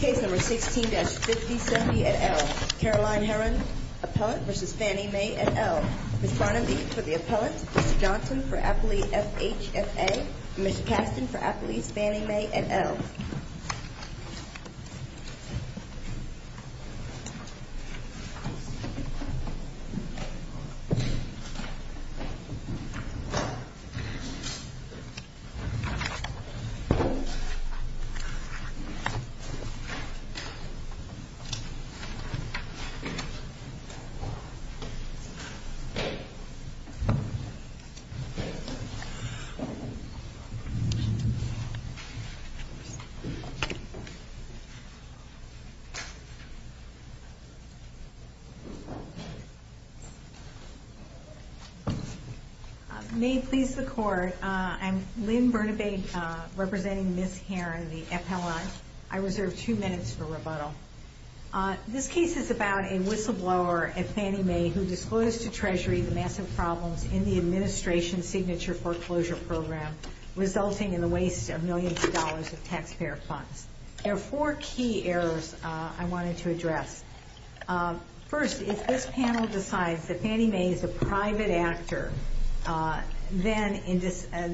Case number 16-5070 et al. Caroline Herron, Appellant v. Fannie Mae et al. Ms. Barnaby for the Appellant, Mr. Johnson for Appellee FHFA, and Ms. Caston for Appellee Fannie Mae et al. May it please the Court, I'm Lynn Barnaby representing Ms. Herron, the Appellant. I reserve two minutes for rebuttal. This case is about a whistleblower, Fannie Mae, who disclosed to Treasury the massive problems in the Administration's signature foreclosure program, resulting in the waste of millions of dollars of taxpayer funds. There are four key errors I wanted to address. First, if this panel decides that Fannie Mae is a private actor, then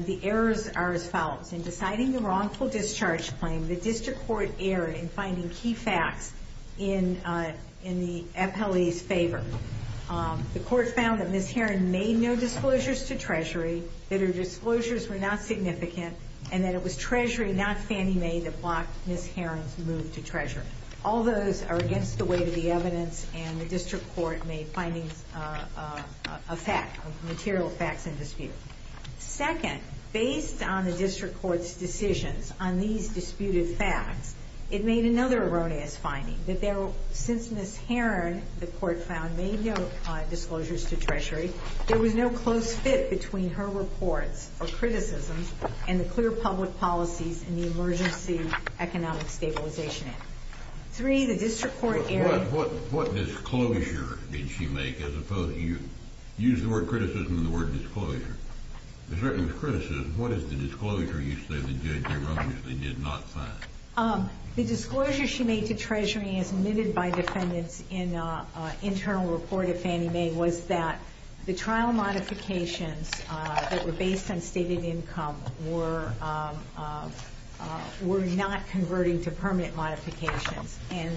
the errors are as follows. In deciding the wrongful discharge claim, the District Court erred in finding key facts in the Appellee's favor. The Court found that Ms. Herron made no disclosures to Treasury, that her disclosures were not significant, and that it was Treasury, not Fannie Mae, that blocked Ms. Herron's move to Treasury. All those are against the weight of the evidence, and the District Court made findings of fact, of material facts in dispute. Second, based on the District Court's decisions on these disputed facts, it made another erroneous finding, that since Ms. Herron, the Court found, made no disclosures to Treasury, there was no close fit between her reports or criticisms and the clear public policies in the Emergency Economic Stabilization Act. What disclosure did she make, as opposed to, you used the word criticism and the word disclosure. As far as criticism, what is the disclosure you say the judge erroneously did not find? And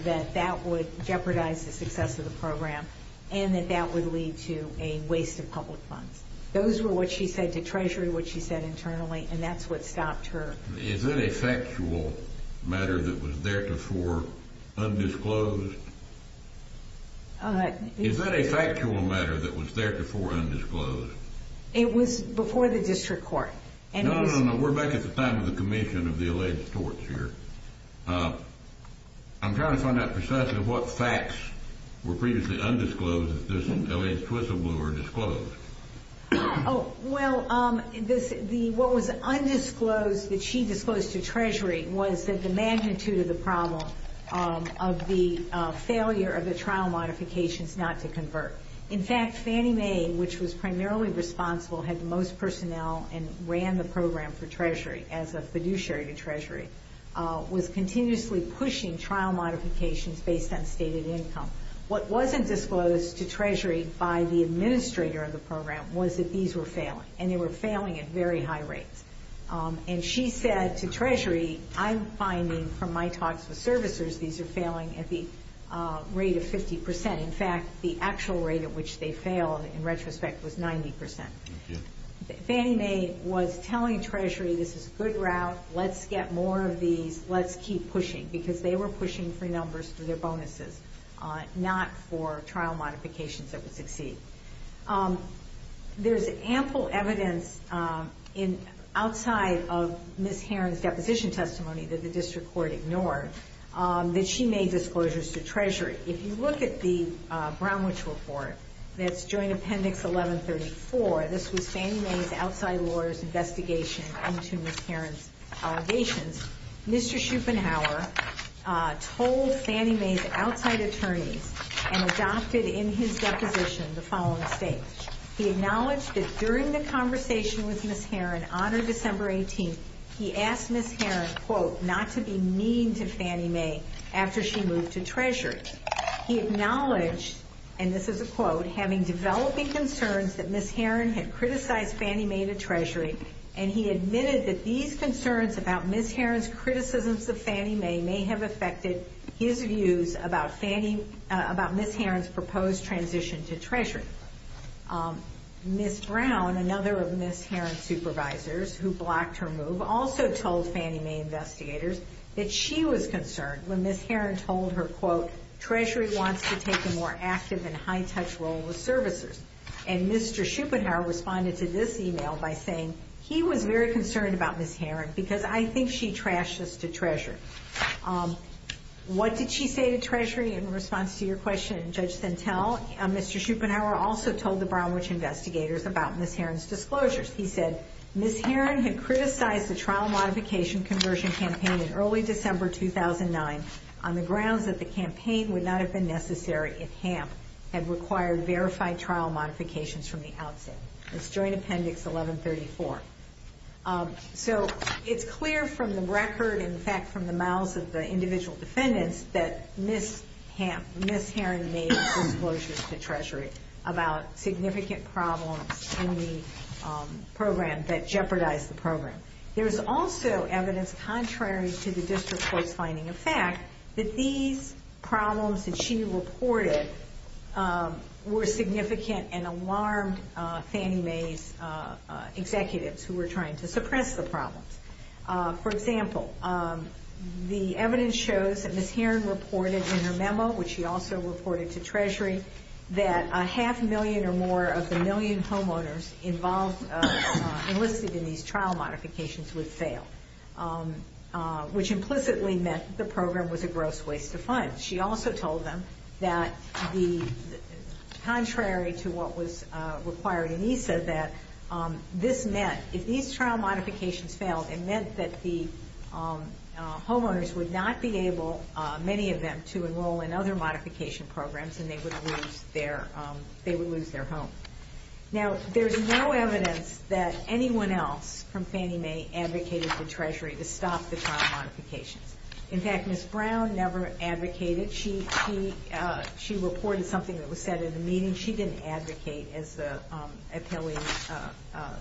that that would jeopardize the success of the program, and that that would lead to a waste of public funds. Those were what she said to Treasury, what she said internally, and that's what stopped her. Is that a factual matter that was theretofore undisclosed? Is that a factual matter that was theretofore undisclosed? It was before the District Court. No, no, no, we're back at the time of the commission of the alleged torts here. I'm trying to find out precisely what facts were previously undisclosed if this alleged twist of blue were disclosed. Oh, well, what was undisclosed that she disclosed to Treasury was that the magnitude of the problem of the failure of the trial modifications not to convert. In fact, Fannie Mae, which was primarily responsible, had the most personnel and ran the program for Treasury as a fiduciary to Treasury, was continuously pushing trial modifications based on stated income. What wasn't disclosed to Treasury by the administrator of the program was that these were failing, and they were failing at very high rates. And she said to Treasury, I'm finding from my talks with servicers these are failing at the rate of 50 percent. In fact, the actual rate at which they failed in retrospect was 90 percent. Fannie Mae was telling Treasury this is a good route. Let's get more of these. Let's keep pushing, because they were pushing for numbers for their bonuses, not for trial modifications that would succeed. There's ample evidence outside of Ms. Heron's deposition testimony that the District Court ignored that she made disclosures to Treasury. If you look at the Brownwich Report, that's Joint Appendix 1134, this was Fannie Mae's outside lawyers' investigation into Ms. Heron's allegations. Mr. Schupenhauer told Fannie Mae's outside attorneys and adopted in his deposition the following statement. He acknowledged that during the conversation with Ms. Heron on December 18th, he asked Ms. Heron, quote, not to be mean to Fannie Mae after she moved to Treasury. He acknowledged, and this is a quote, having developing concerns that Ms. Heron had criticized Fannie Mae to Treasury, and he admitted that these concerns about Ms. Heron's criticisms of Fannie Mae may have affected his views about Ms. Heron's proposed transition to Treasury. Ms. Brown, another of Ms. Heron's supervisors who blocked her move, also told Fannie Mae investigators that she was concerned when Ms. Heron told her, quote, Treasury wants to take a more active and high-touch role with servicers. And Mr. Schupenhauer responded to this email by saying he was very concerned about Ms. Heron because I think she trashed us to Treasury. What did she say to Treasury in response to your question, Judge Sentelle? Mr. Schupenhauer also told the Brownwich investigators about Ms. Heron's disclosures. He said Ms. Heron had criticized the trial modification conversion campaign in early December 2009 on the grounds that the campaign would not have been necessary if HAMP had required verified trial modifications from the outset. That's Joint Appendix 1134. So it's clear from the record, in fact, from the mouths of the individual defendants that Ms. Heron made disclosures to Treasury about significant problems in the program that jeopardized the program. There's also evidence contrary to the district court's finding of fact that these problems that she reported were significant and alarmed Fannie Mae's executives who were trying to suppress the problems. For example, the evidence shows that Ms. Heron reported in her memo, which she also reported to Treasury, that a half million or more of the million homeowners enlisted in these trial modifications would fail, which implicitly meant the program was a gross waste of funds. She also told them that contrary to what was required, and he said that if these trial modifications failed, it meant that the homeowners would not be able, many of them, to enroll in other modification programs and they would lose their home. Now, there's no evidence that anyone else from Fannie Mae advocated for Treasury to stop the trial modifications. In fact, Ms. Brown never advocated. She reported something that was said in the meeting. She didn't advocate as the appealing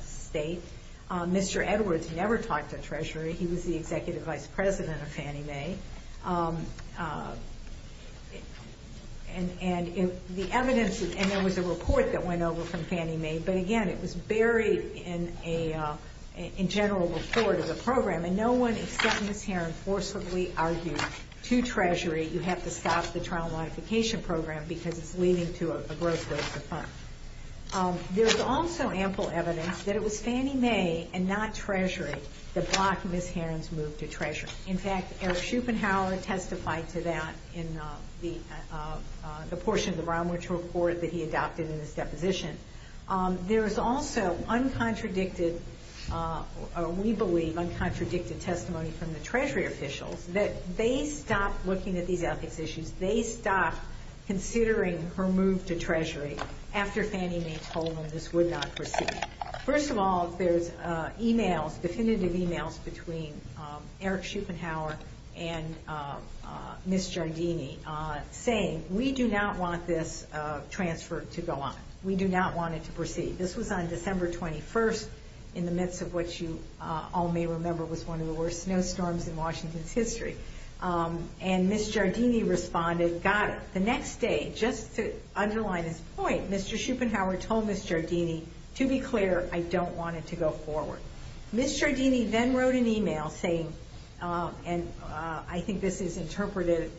state. Mr. Edwards never talked to Treasury. He was the executive vice president of Fannie Mae. And the evidence, and there was a report that went over from Fannie Mae, but again, it was buried in a general report of the program. And no one except Ms. Heron forcibly argued to Treasury, you have to stop the trial modification program because it's leading to a gross waste of funds. There's also ample evidence that it was Fannie Mae and not Treasury that blocked Ms. Heron's move to Treasury. In fact, Eric Schupenhauer testified to that in the portion of the Brown-Mitchell report that he adopted in his deposition. There is also uncontradicted, we believe, uncontradicted testimony from the Treasury officials that they stopped looking at these ethics issues. They stopped considering her move to Treasury after Fannie Mae told them this would not proceed. First of all, there's emails, definitive emails between Eric Schupenhauer and Ms. Giardini saying, we do not want this transfer to go on. We do not want it to proceed. This was on December 21st, in the midst of what you all may remember was one of the worst snowstorms in Washington's history. And Ms. Giardini responded, got it. The next day, just to underline his point, Mr. Schupenhauer told Ms. Giardini, to be clear, I don't want it to go forward. Ms. Giardini then wrote an email saying, and I think this is interpreted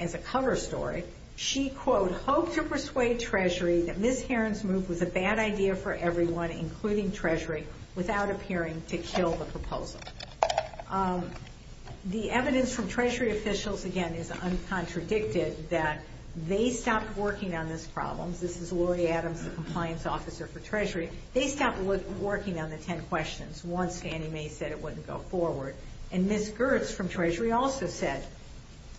as a cover story, she, quote, hoped to persuade Treasury that Ms. Heron's move was a bad idea for everyone, including Treasury, without appearing to kill the proposal. The evidence from Treasury officials, again, is uncontradicted that they stopped working on this problem. This is Lori Adams, the compliance officer for Treasury. They stopped working on the 10 questions once Fannie Mae said it wouldn't go forward. And Ms. Girtz from Treasury also said,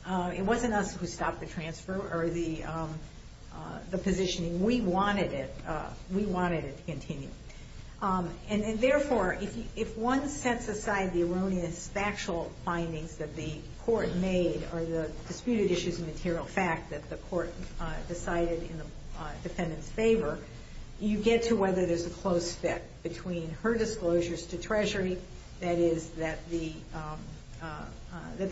it wasn't us who stopped the transfer or the positioning. We wanted it to continue. And therefore, if one sets aside the erroneous factual findings that the court made, or the disputed issues of material fact that the court decided in the defendant's favor, you get to whether there's a close fit between her disclosures to Treasury, that is, that the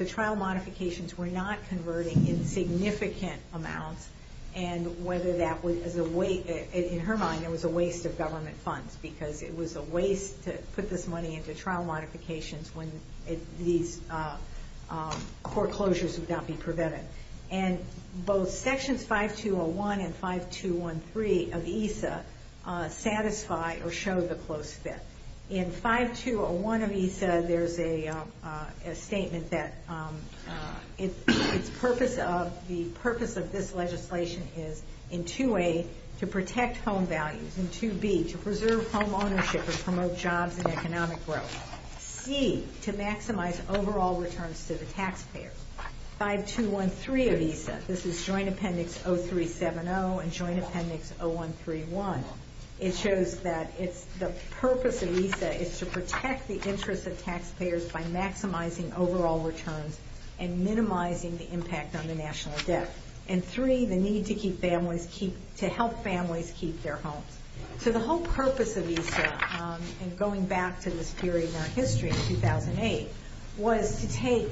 trial modifications were not converting in significant amounts, and whether that would, in her mind, it was a waste of government funds, because it was a waste to put this money into trial modifications when these court closures would not be prevented. And both sections 5201 and 5213 of EISA satisfy or show the close fit. In 5201 of EISA, there's a statement that the purpose of this legislation is, in 2A, to protect home values. In 2B, to preserve home ownership and promote jobs and economic growth. C, to maximize overall returns to the taxpayers. 5213 of EISA, this is Joint Appendix 0370 and Joint Appendix 0131, it shows that the purpose of EISA is to protect the interests of taxpayers by maximizing overall returns and minimizing the impact on the national debt. And 3, the need to help families keep their homes. So the whole purpose of EISA, and going back to this period in our history in 2008, was to take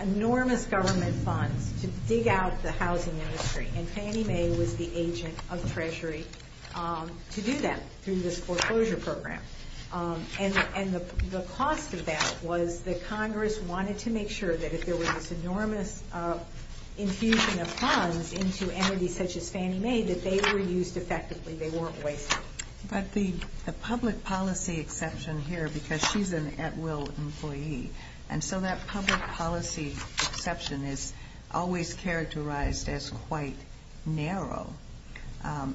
enormous government funds to dig out the housing industry. And Fannie Mae was the agent of Treasury to do that through this foreclosure program. And the cost of that was that Congress wanted to make sure that if there was this enormous infusion of funds into entities such as Fannie Mae, that they were used effectively, they weren't wasted. But the public policy exception here, because she's an at-will employee, and so that public policy exception is always characterized as quite narrow.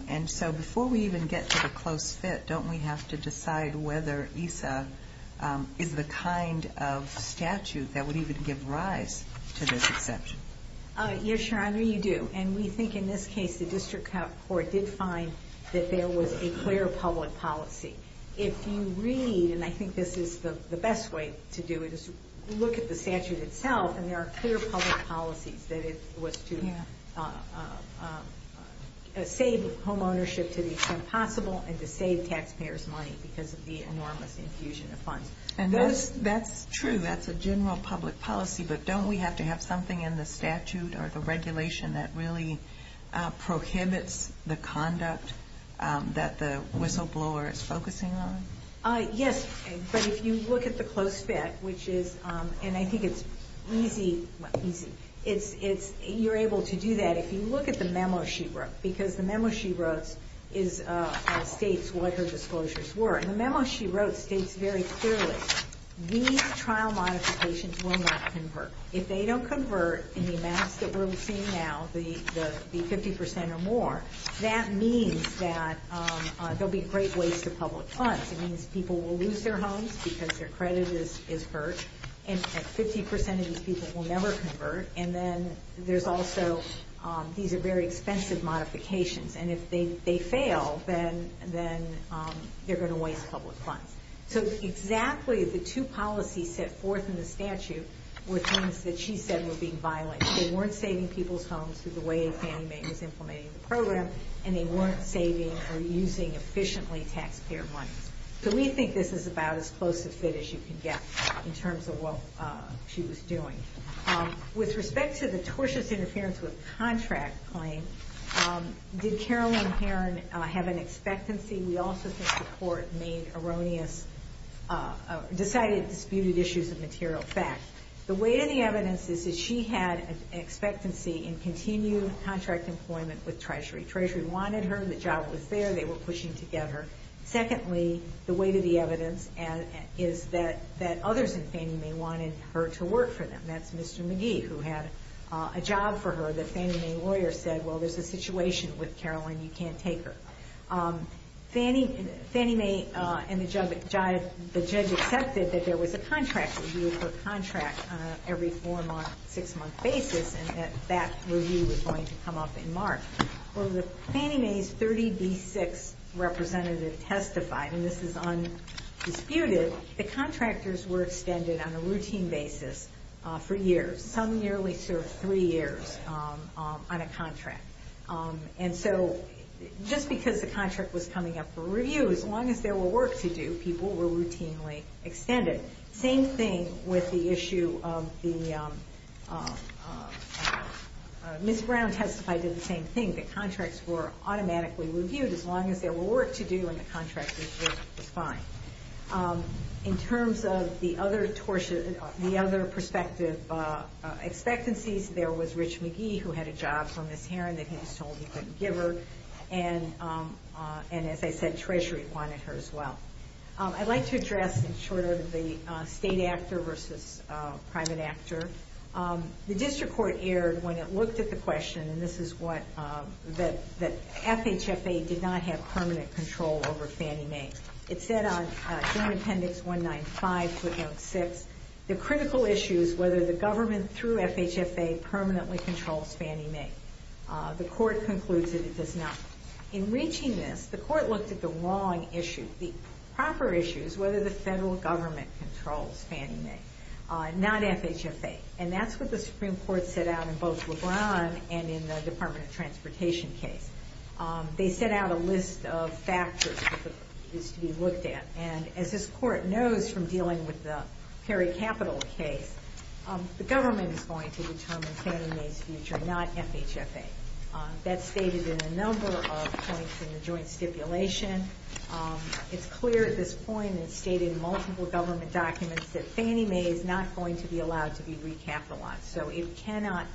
And so before we even get to the close fit, don't we have to decide whether EISA is the kind of statute that would even give rise to this exception? Yes, Your Honor, you do. And we think in this case the district court did find that there was a clear public policy. If you read, and I think this is the best way to do it, is look at the statute itself, and there are clear public policies that it was to save homeownership to the extent possible and to save taxpayers money because of the enormous infusion of funds. And that's true, that's a general public policy, but don't we have to have something in the statute or the regulation that really prohibits the conduct that the whistleblower is focusing on? Yes, but if you look at the close fit, which is, and I think it's easy, you're able to do that if you look at the memo she wrote, because the memo she wrote states what her disclosures were. And the memo she wrote states very clearly, these trial modifications will not convert. If they don't convert in the amounts that we're seeing now, the 50% or more, that means that there will be great waste of public funds. It means people will lose their homes because their credit is hurt, and 50% of these people will never convert. And then there's also, these are very expensive modifications, and if they fail, then they're going to waste public funds. So exactly the two policies set forth in the statute were things that she said were being violent. They weren't saving people's homes through the way Fannie Mae was implementing the program, and they weren't saving or using efficiently taxpayer money. So we think this is about as close to fit as you can get in terms of what she was doing. With respect to the tortious interference with contract claim, did Carolyn Herron have an expectancy? We also think the court made erroneous, decided disputed issues of material fact. The weight of the evidence is that she had an expectancy in continued contract employment with Treasury. Treasury wanted her, the job was there, they were pushing together. Secondly, the weight of the evidence is that others in Fannie Mae wanted her to work for them. That's Mr. McGee, who had a job for her that Fannie Mae lawyers said, well, there's a situation with Carolyn, you can't take her. Fannie Mae and the judge accepted that there was a contract review for a contract every four-month, six-month basis, and that that review was going to come up in March. When Fannie Mae's 30B6 representative testified, and this is undisputed, the contractors were extended on a routine basis for years. Some nearly served three years on a contract. And so just because the contract was coming up for review, as long as there were work to do, people were routinely extended. Same thing with the issue of the... Ms. Brown testified to the same thing, that contracts were automatically reviewed as long as there were work to do and the contract was fine. In terms of the other perspective expectancies, there was Rich McGee, who had a job for Ms. Heron that he was told he couldn't give her, and, as I said, Treasury wanted her as well. I'd like to address, in short order, the state actor versus private actor. The district court erred when it looked at the question, and this is what... that FHFA did not have permanent control over Fannie Mae. It said on Joint Appendix 195, Footnote 6, the critical issue is whether the government, through FHFA, permanently controls Fannie Mae. The court concludes that it does not. In reaching this, the court looked at the wrong issue. The proper issue is whether the federal government controls Fannie Mae, not FHFA, and that's what the Supreme Court set out in both LeBron and in the Department of Transportation case. They set out a list of factors that needs to be looked at, and, as this court knows from dealing with the Perry Capital case, the government is going to determine Fannie Mae's future, not FHFA. That's stated in a number of points in the joint stipulation. It's clear at this point, and it's stated in multiple government documents, that Fannie Mae is not going to be allowed to be recapitalized, so it cannot...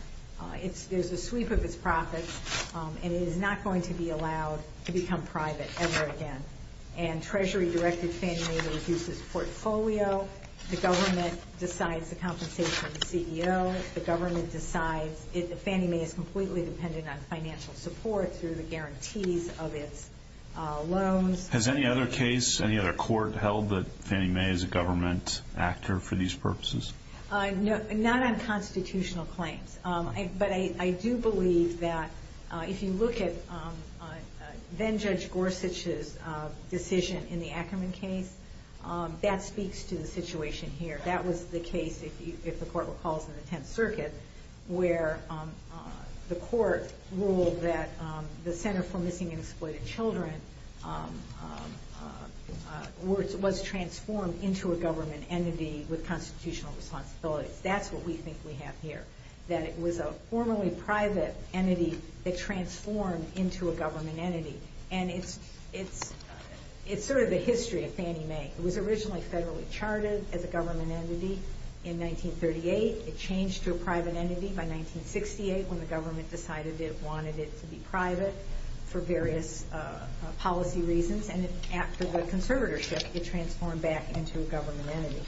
There's a sweep of its profits, and it is not going to be allowed to become private ever again. Treasury directed Fannie Mae to reduce its portfolio. The government decides the compensation of the CEO. The government decides Fannie Mae is completely dependent on financial support through the guarantees of its loans. Has any other case, any other court, held that Fannie Mae is a government actor for these purposes? Not on constitutional claims, but I do believe that if you look at then-Judge Gorsuch's decision in the Ackerman case, that speaks to the situation here. That was the case, if the court recalls, in the Tenth Circuit, where the court ruled that the Center for Missing and Exploited Children was transformed into a government entity with constitutional responsibilities. That's what we think we have here, that it was a formerly private entity that transformed into a government entity. And it's sort of the history of Fannie Mae. It was originally federally charted as a government entity in 1938. It changed to a private entity by 1968, when the government decided it wanted it to be private for various policy reasons. And after the conservatorship, it transformed back into a government entity.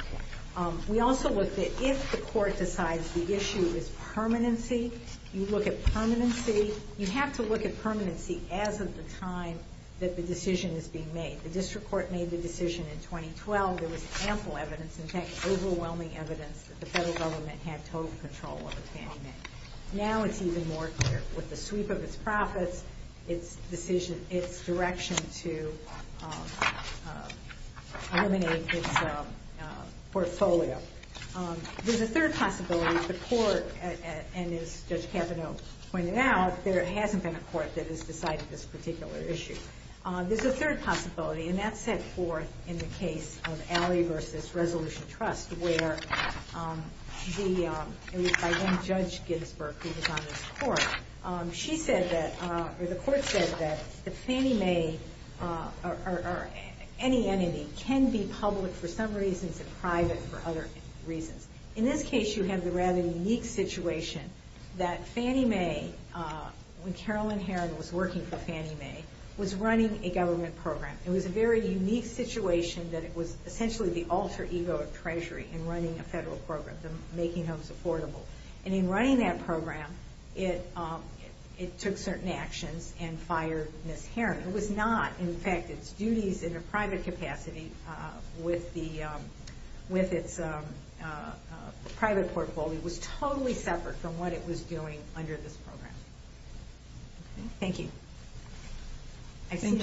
We also look that if the court decides the issue is permanency, you look at permanency. You have to look at permanency as of the time that the decision is being made. The district court made the decision in 2012. There was ample evidence, in fact, overwhelming evidence, that the federal government had total control over Fannie Mae. Now it's even more clear, with the sweep of its profits, its direction to eliminate its portfolio. There's a third possibility. The court, and as Judge Capito pointed out, there hasn't been a court that has decided this particular issue. There's a third possibility, and that's set forth in the case of Alley v. Resolution Trust, where it was by one Judge Ginsberg who was on this court. The court said that Fannie Mae, or any entity, can be public for some reasons and private for other reasons. In this case, you have the rather unique situation that Fannie Mae, when Carolyn Heron was working for Fannie Mae, was running a government program. It was a very unique situation that it was essentially the alter ego of Treasury in running a federal program, making homes affordable. In running that program, it took certain actions and fired Ms. Heron. It was not. In fact, its duties in a private capacity with its private portfolio was totally separate from what it was doing under this program. Thank you. Thank you.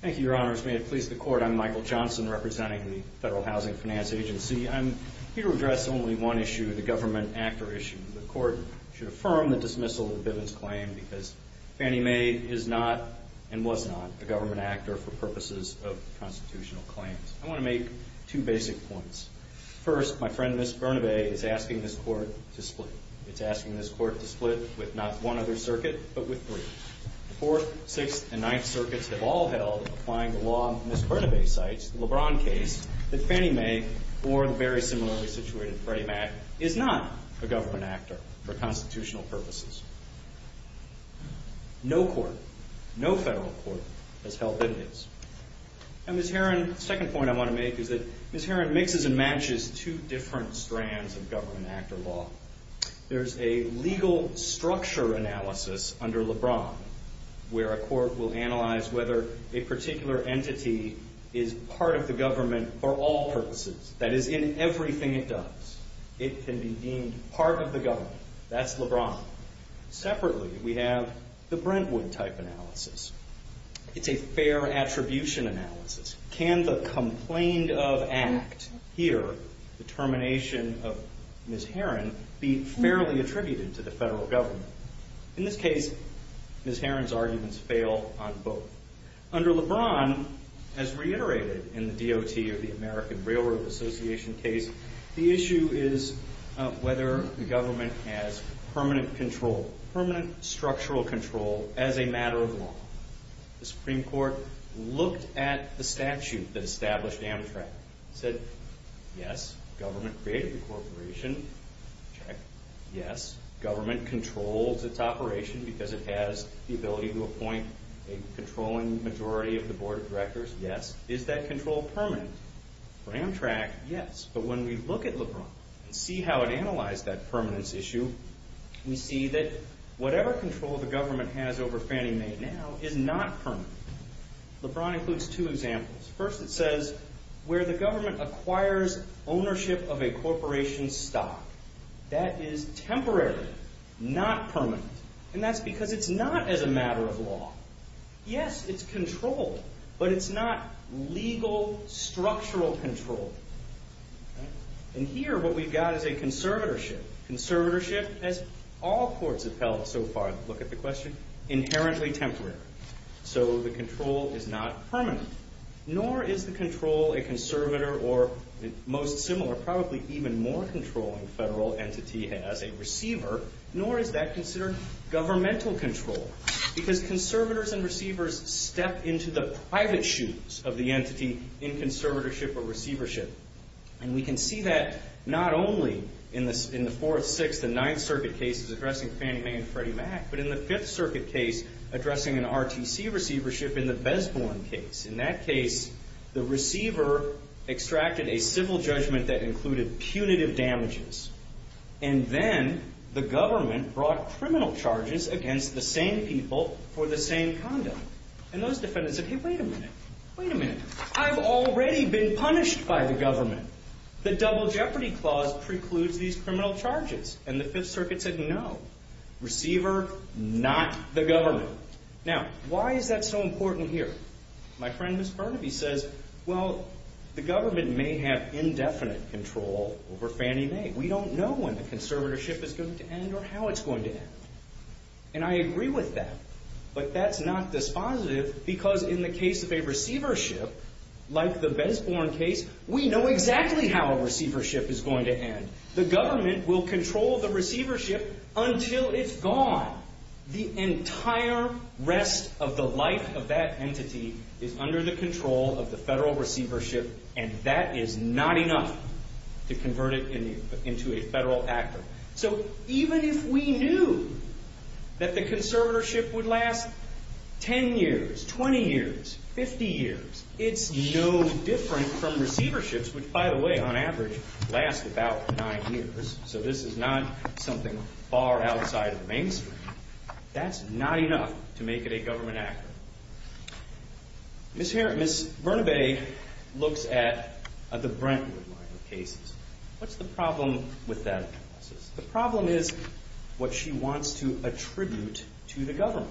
Thank you, Your Honors. May it please the Court, I'm Michael Johnson, representing the Federal Housing Finance Agency. I'm here to address only one issue, the government actor issue. The Court should affirm the dismissal of Bivens' claim because Fannie Mae is not and was not a government actor for purposes of constitutional claims. I want to make two basic points. First, my friend, Ms. Burnaby, is asking this Court to split. It's asking this Court to split with not one other circuit, but with three. The Fourth, Sixth, and Ninth Circuits have all held, applying the law Ms. Burnaby cites, the LeBron case, that Fannie Mae, or the very similarly situated Freddie Mac, is not a government actor for constitutional purposes. No court, no federal court, has held Bivens. And Ms. Herron, the second point I want to make is that Ms. Herron mixes and matches two different strands of government actor law. There's a legal structure analysis under LeBron where a court will analyze whether a particular entity is part of the government for all purposes. That is, in everything it does, it can be deemed part of the government. That's LeBron. Separately, we have the Brentwood type analysis. It's a fair attribution analysis. Can the complaint of act here, the termination of Ms. Herron, be fairly attributed to the federal government? In this case, Ms. Herron's arguments fail on both. Under LeBron, as reiterated in the DOT, or the American Railroad Association case, the issue is whether the government has permanent control, as a matter of law. The Supreme Court looked at the statute that established Amtrak. It said, yes, government created the corporation. Check. Yes, government controls its operation because it has the ability to appoint a controlling majority of the board of directors. Yes. Is that control permanent? For Amtrak, yes. But when we look at LeBron and see how it analyzed that permanence issue, we see that whatever control the government has over Fannie Mae now is not permanent. LeBron includes two examples. First, it says where the government acquires ownership of a corporation's stock. That is temporary, not permanent. And that's because it's not as a matter of law. Yes, it's control, but it's not legal, structural control. And here, what we've got is a conservatorship. Conservatorship, as all courts have held so far, look at the question, inherently temporary. So the control is not permanent. Nor is the control a conservator or, most similar, probably even more controlling federal entity as a receiver, nor is that considered governmental control because conservators and receivers step into the private shoes of the entity in conservatorship or receivership. And we can see that not only in the Fourth, Sixth, and Ninth Circuit cases addressing Fannie Mae and Freddie Mac, but in the Fifth Circuit case addressing an RTC receivership in the Besborn case. In that case, the receiver extracted a civil judgment that included punitive damages. And then the government brought criminal charges against the same people for the same conduct. And those defendants said, hey, wait a minute. Wait a minute. I've already been punished by the government. The Double Jeopardy Clause precludes these criminal charges. And the Fifth Circuit said, no. Receiver, not the government. Now, why is that so important here? My friend, Ms. Burnaby, says, well, the government may have indefinite control over Fannie Mae. We don't know when the conservatorship is going to end or how it's going to end. And I agree with that. But that's not dispositive because, in the case of a receivership like the Besborn case, we know exactly how a receivership is going to end. The government will control the receivership until it's gone. The entire rest of the life of that entity is under the control of the federal receivership. And that is not enough to convert it into a federal actor. So even if we knew that the conservatorship would last 10 years, 20 years, 50 years, it's no different from receiverships, which, by the way, on average, last about nine years. So this is not something far outside of the mainstream. That's not enough to make it a government actor. Ms. Burnaby looks at the Brentwood line of cases. What's the problem with that analysis? The problem is what she wants to attribute to the government.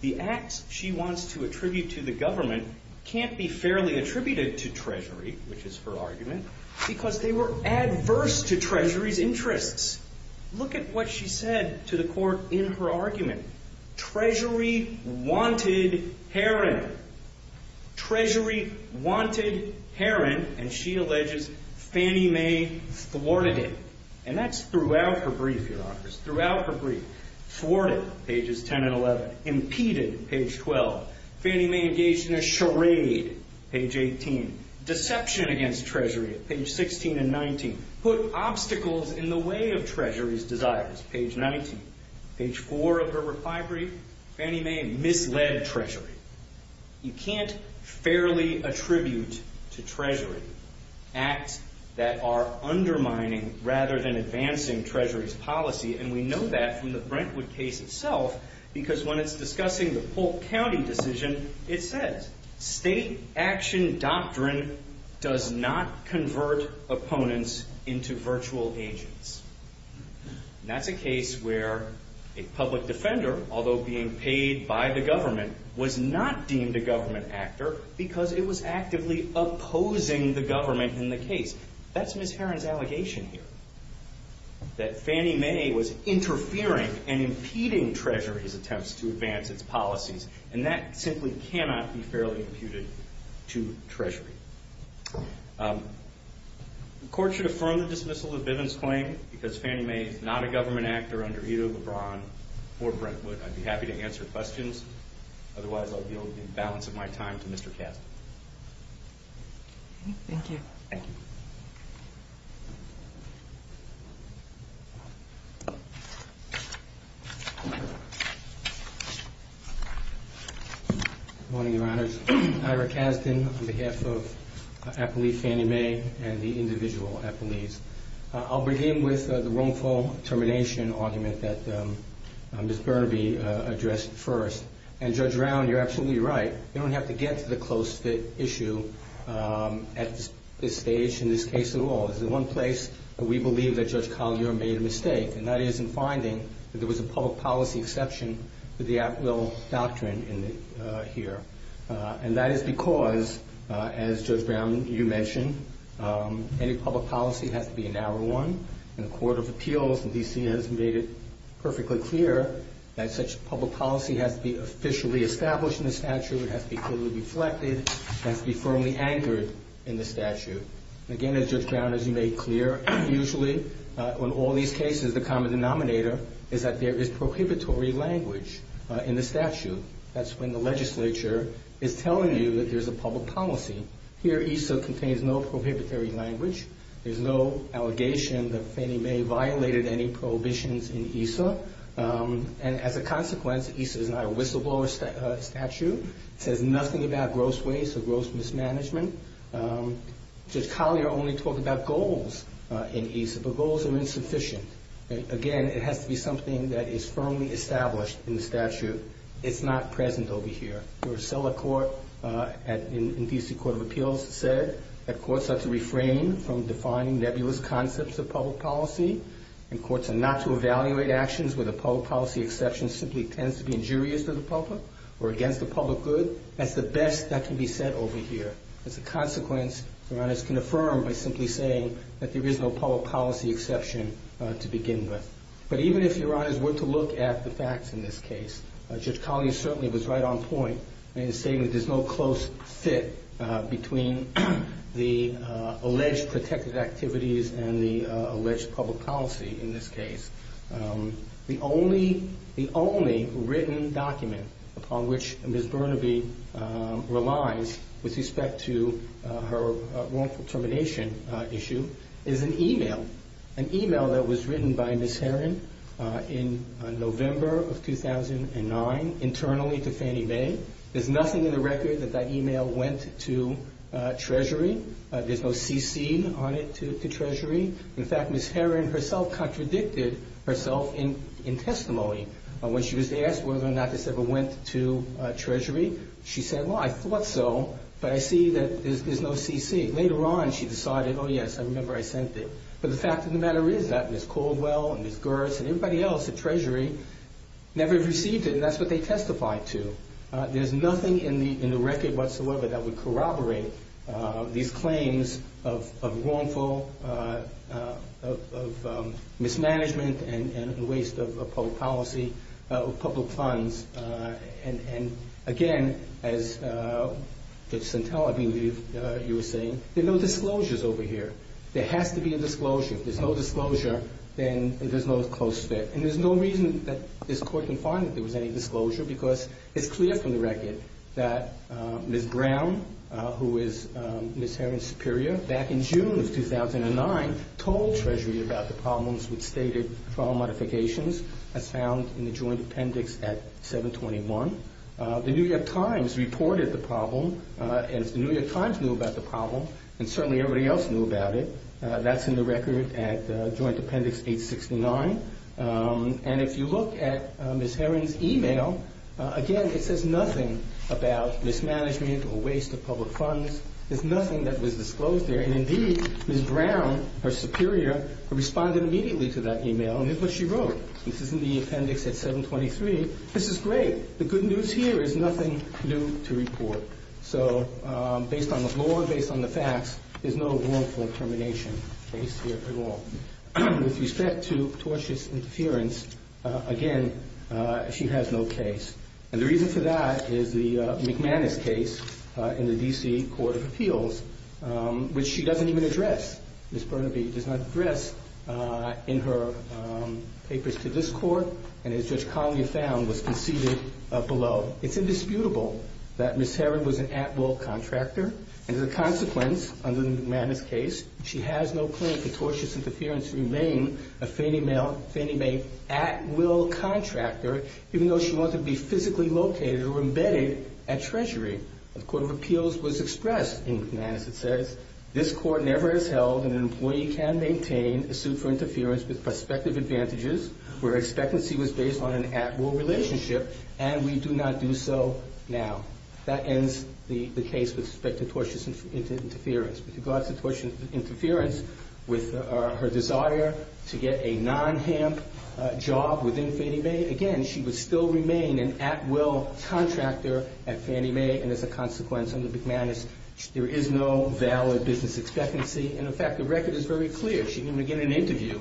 The acts she wants to attribute to the government can't be fairly attributed to Treasury, which is her argument, because they were adverse to Treasury's interests. Look at what she said to the court in her argument. Treasury wanted Heron. Treasury wanted Heron. And she alleges Fannie Mae thwarted it. And that's throughout her brief, Your Honors, throughout her brief. Thwarted, pages 10 and 11. Impeded, page 12. Fannie Mae engaged in a charade, page 18. Deception against Treasury, page 16 and 19. Put obstacles in the way of Treasury's desires, page 19. Page 4 of her reply brief, Fannie Mae misled Treasury. You can't fairly attribute to Treasury acts that are undermining rather than advancing Treasury's policy. And we know that from the Brentwood case itself, because when it's discussing the Polk County decision, it says, State action doctrine does not convert opponents into virtual agents. And that's a case where a public defender, although being paid by the government, was not deemed a government actor because it was actively opposing the government in the case. That's Ms. Heron's allegation here. That Fannie Mae was interfering and impeding Treasury's attempts to advance its policies. And that simply cannot be fairly imputed to Treasury. The court should affirm the dismissal of Bivens' claim because Fannie Mae is not a government actor under Ito LeBron or Brentwood. I'd be happy to answer questions. Otherwise, I'll yield the balance of my time to Mr. Kasdan. Thank you. Good morning, Your Honors. Ira Kasdan on behalf of Appellee Fannie Mae and the individual appellees. I'll begin with the wrongful termination argument that Ms. Burnaby addressed first. And, Judge Brown, you're absolutely right. You don't have to get to the close fit issue at this stage in this case at all. It's the one place that we believe that Judge Collier made a mistake, and that is in finding that there was a public policy exception to the at-will doctrine here. And that is because, as Judge Brown, you mentioned, any public policy has to be a narrow one. And the Court of Appeals in D.C. has made it perfectly clear that such public policy has to be officially established in the statute, it has to be clearly reflected, it has to be firmly anchored in the statute. Again, as Judge Brown, as you made clear, usually on all these cases the common denominator is that there is prohibitory language in the statute. That's when the legislature is telling you that there's a public policy. Here, ESSA contains no prohibitory language. There's no allegation that Fannie Mae violated any prohibitions in ESSA. And as a consequence, ESSA is not a whistleblower statute. It says nothing about gross waste or gross mismanagement. Judge Collier only talked about goals in ESSA, but goals are insufficient. Again, it has to be something that is firmly established in the statute. It's not present over here. Your cellar court in D.C. Court of Appeals said that courts are to refrain from defining nebulous concepts of public policy and courts are not to evaluate actions where the public policy exception simply tends to be injurious to the public or against the public good. That's the best that can be said over here. As a consequence, Your Honors can affirm by simply saying that there is no public policy exception to begin with. But even if Your Honors were to look at the facts in this case, Judge Collier certainly was right on point in saying that there's no close fit between the alleged protected activities and the alleged public policy in this case. The only written document upon which Ms. Burnaby relies with respect to her wrongful termination issue is an e-mail. An e-mail that was written by Ms. Herron in November of 2009 internally to Fannie Mae. There's nothing in the record that that e-mail went to Treasury. There's no CC on it to Treasury. In fact, Ms. Herron herself contradicted herself in testimony. When she was asked whether or not this ever went to Treasury, she said, well, I thought so, but I see that there's no CC. Later on she decided, oh, yes, I remember I sent it. But the fact of the matter is that Ms. Caldwell and Ms. Gerst and everybody else at Treasury never received it, and that's what they testified to. There's nothing in the record whatsoever that would corroborate these claims of wrongful mismanagement and waste of public policy, of public funds. Again, as Judge Santella, I believe, you were saying, there are no disclosures over here. There has to be a disclosure. If there's no disclosure, then there's no close fit. And there's no reason that this Court can find that there was any disclosure because it's clear from the record that Ms. Brown, who is Ms. Herron's superior, back in June of 2009, told Treasury about the problems with stated trial modifications as found in the joint appendix at 721. The New York Times reported the problem, and if the New York Times knew about the problem, and certainly everybody else knew about it, that's in the record at joint appendix 869. And if you look at Ms. Herron's email, again, it says nothing about mismanagement or waste of public funds. There's nothing that was disclosed there. And indeed, Ms. Brown, her superior, responded immediately to that email, and here's what she wrote. This is in the appendix at 723. This is great. The good news here is nothing new to report. So based on the floor, based on the facts, there's no wrongful termination case here at all. With respect to tortious interference, again, she has no case. And the reason for that is the McManus case in the D.C. Court of Appeals, which she doesn't even address. Ms. Burnaby does not address in her papers to this Court, and as Judge Conley found, was conceded below. It's indisputable that Ms. Herron was an at-will contractor, and as a consequence, under the McManus case, she has no claim for tortious interference to remain a feigning at-will contractor, even though she wanted to be physically located or embedded at Treasury. The Court of Appeals was expressed in McManus, it says, this Court never has held that an employee can maintain a suit for interference with prospective advantages where expectancy was based on an at-will relationship and we do not do so now. That ends the case with respect to tortious interference. With regards to tortious interference, with her desire to get a non-HAMP job within Fannie Mae, again, she would still remain an at-will contractor at Fannie Mae, and as a consequence, under McManus, there is no valid business expectancy. And, in fact, the record is very clear. She didn't even get an interview.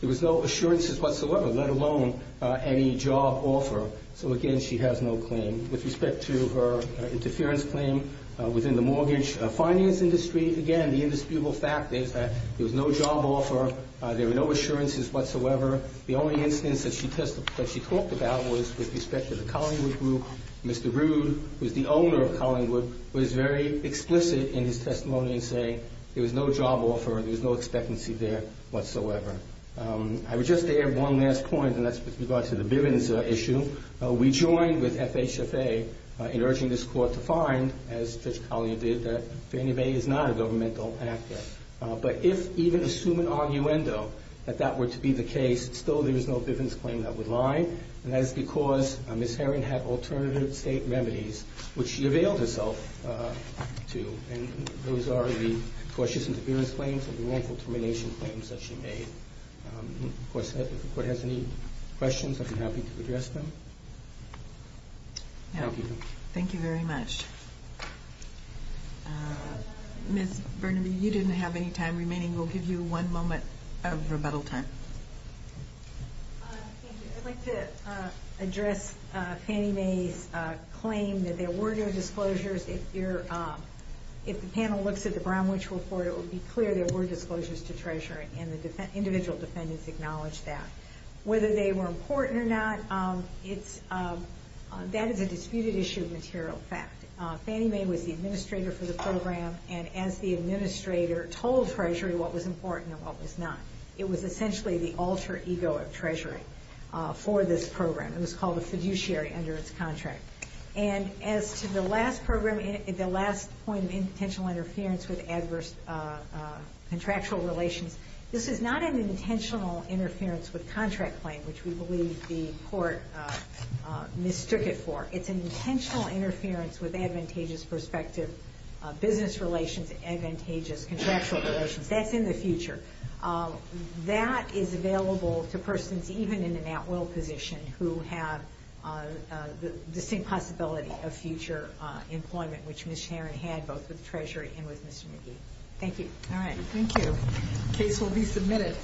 There was no assurances whatsoever, let alone any job offer. So, again, she has no claim. With respect to her interference claim within the mortgage finance industry, again, the indisputable fact is that there was no job offer, there were no assurances whatsoever. The only instance that she talked about was with respect to the Collingwood Group. Mr. Rude, who is the owner of Collingwood, was very explicit in his testimony in saying there was no job offer, there was no expectancy there whatsoever. I would just add one last point, and that's with regard to the Bivens issue. We joined with FHFA in urging this Court to find, as Judge Collingwood did, that Fannie Mae is not a governmental actor. But if, even assuming argumento, that that were to be the case, still there is no Bivens claim that would lie, and that is because Ms. Herring had alternative state remedies, which she availed herself to, and those are the tortious interference claims and the wrongful termination claims that she made. Of course, if the Court has any questions, I'd be happy to address them. Thank you. Thank you very much. Ms. Burnaby, you didn't have any time remaining. We'll give you one moment of rebuttal time. I'd like to address Fannie Mae's claim that there were no disclosures. If the panel looks at the Brown Witch Report, it would be clear there were disclosures to Treasury, and the individual defendants acknowledged that. Whether they were important or not, that is a disputed issue of material fact. Fannie Mae was the administrator for the program, and as the administrator told Treasury what was important and what was not. It was essentially the alter ego of Treasury for this program. It was called a fiduciary under its contract. As to the last point of intentional interference with adverse contractual relations, this is not an intentional interference with contract claim, which we believe the Court mistook it for. It's an intentional interference with advantageous perspective business relations, advantageous contractual relations. That's in the future. That is available to persons even in an at-will position who have the same possibility of future employment, which Ms. Herron had both with Treasury and with Mr. McGee. Thank you. Thank you. The case will be submitted.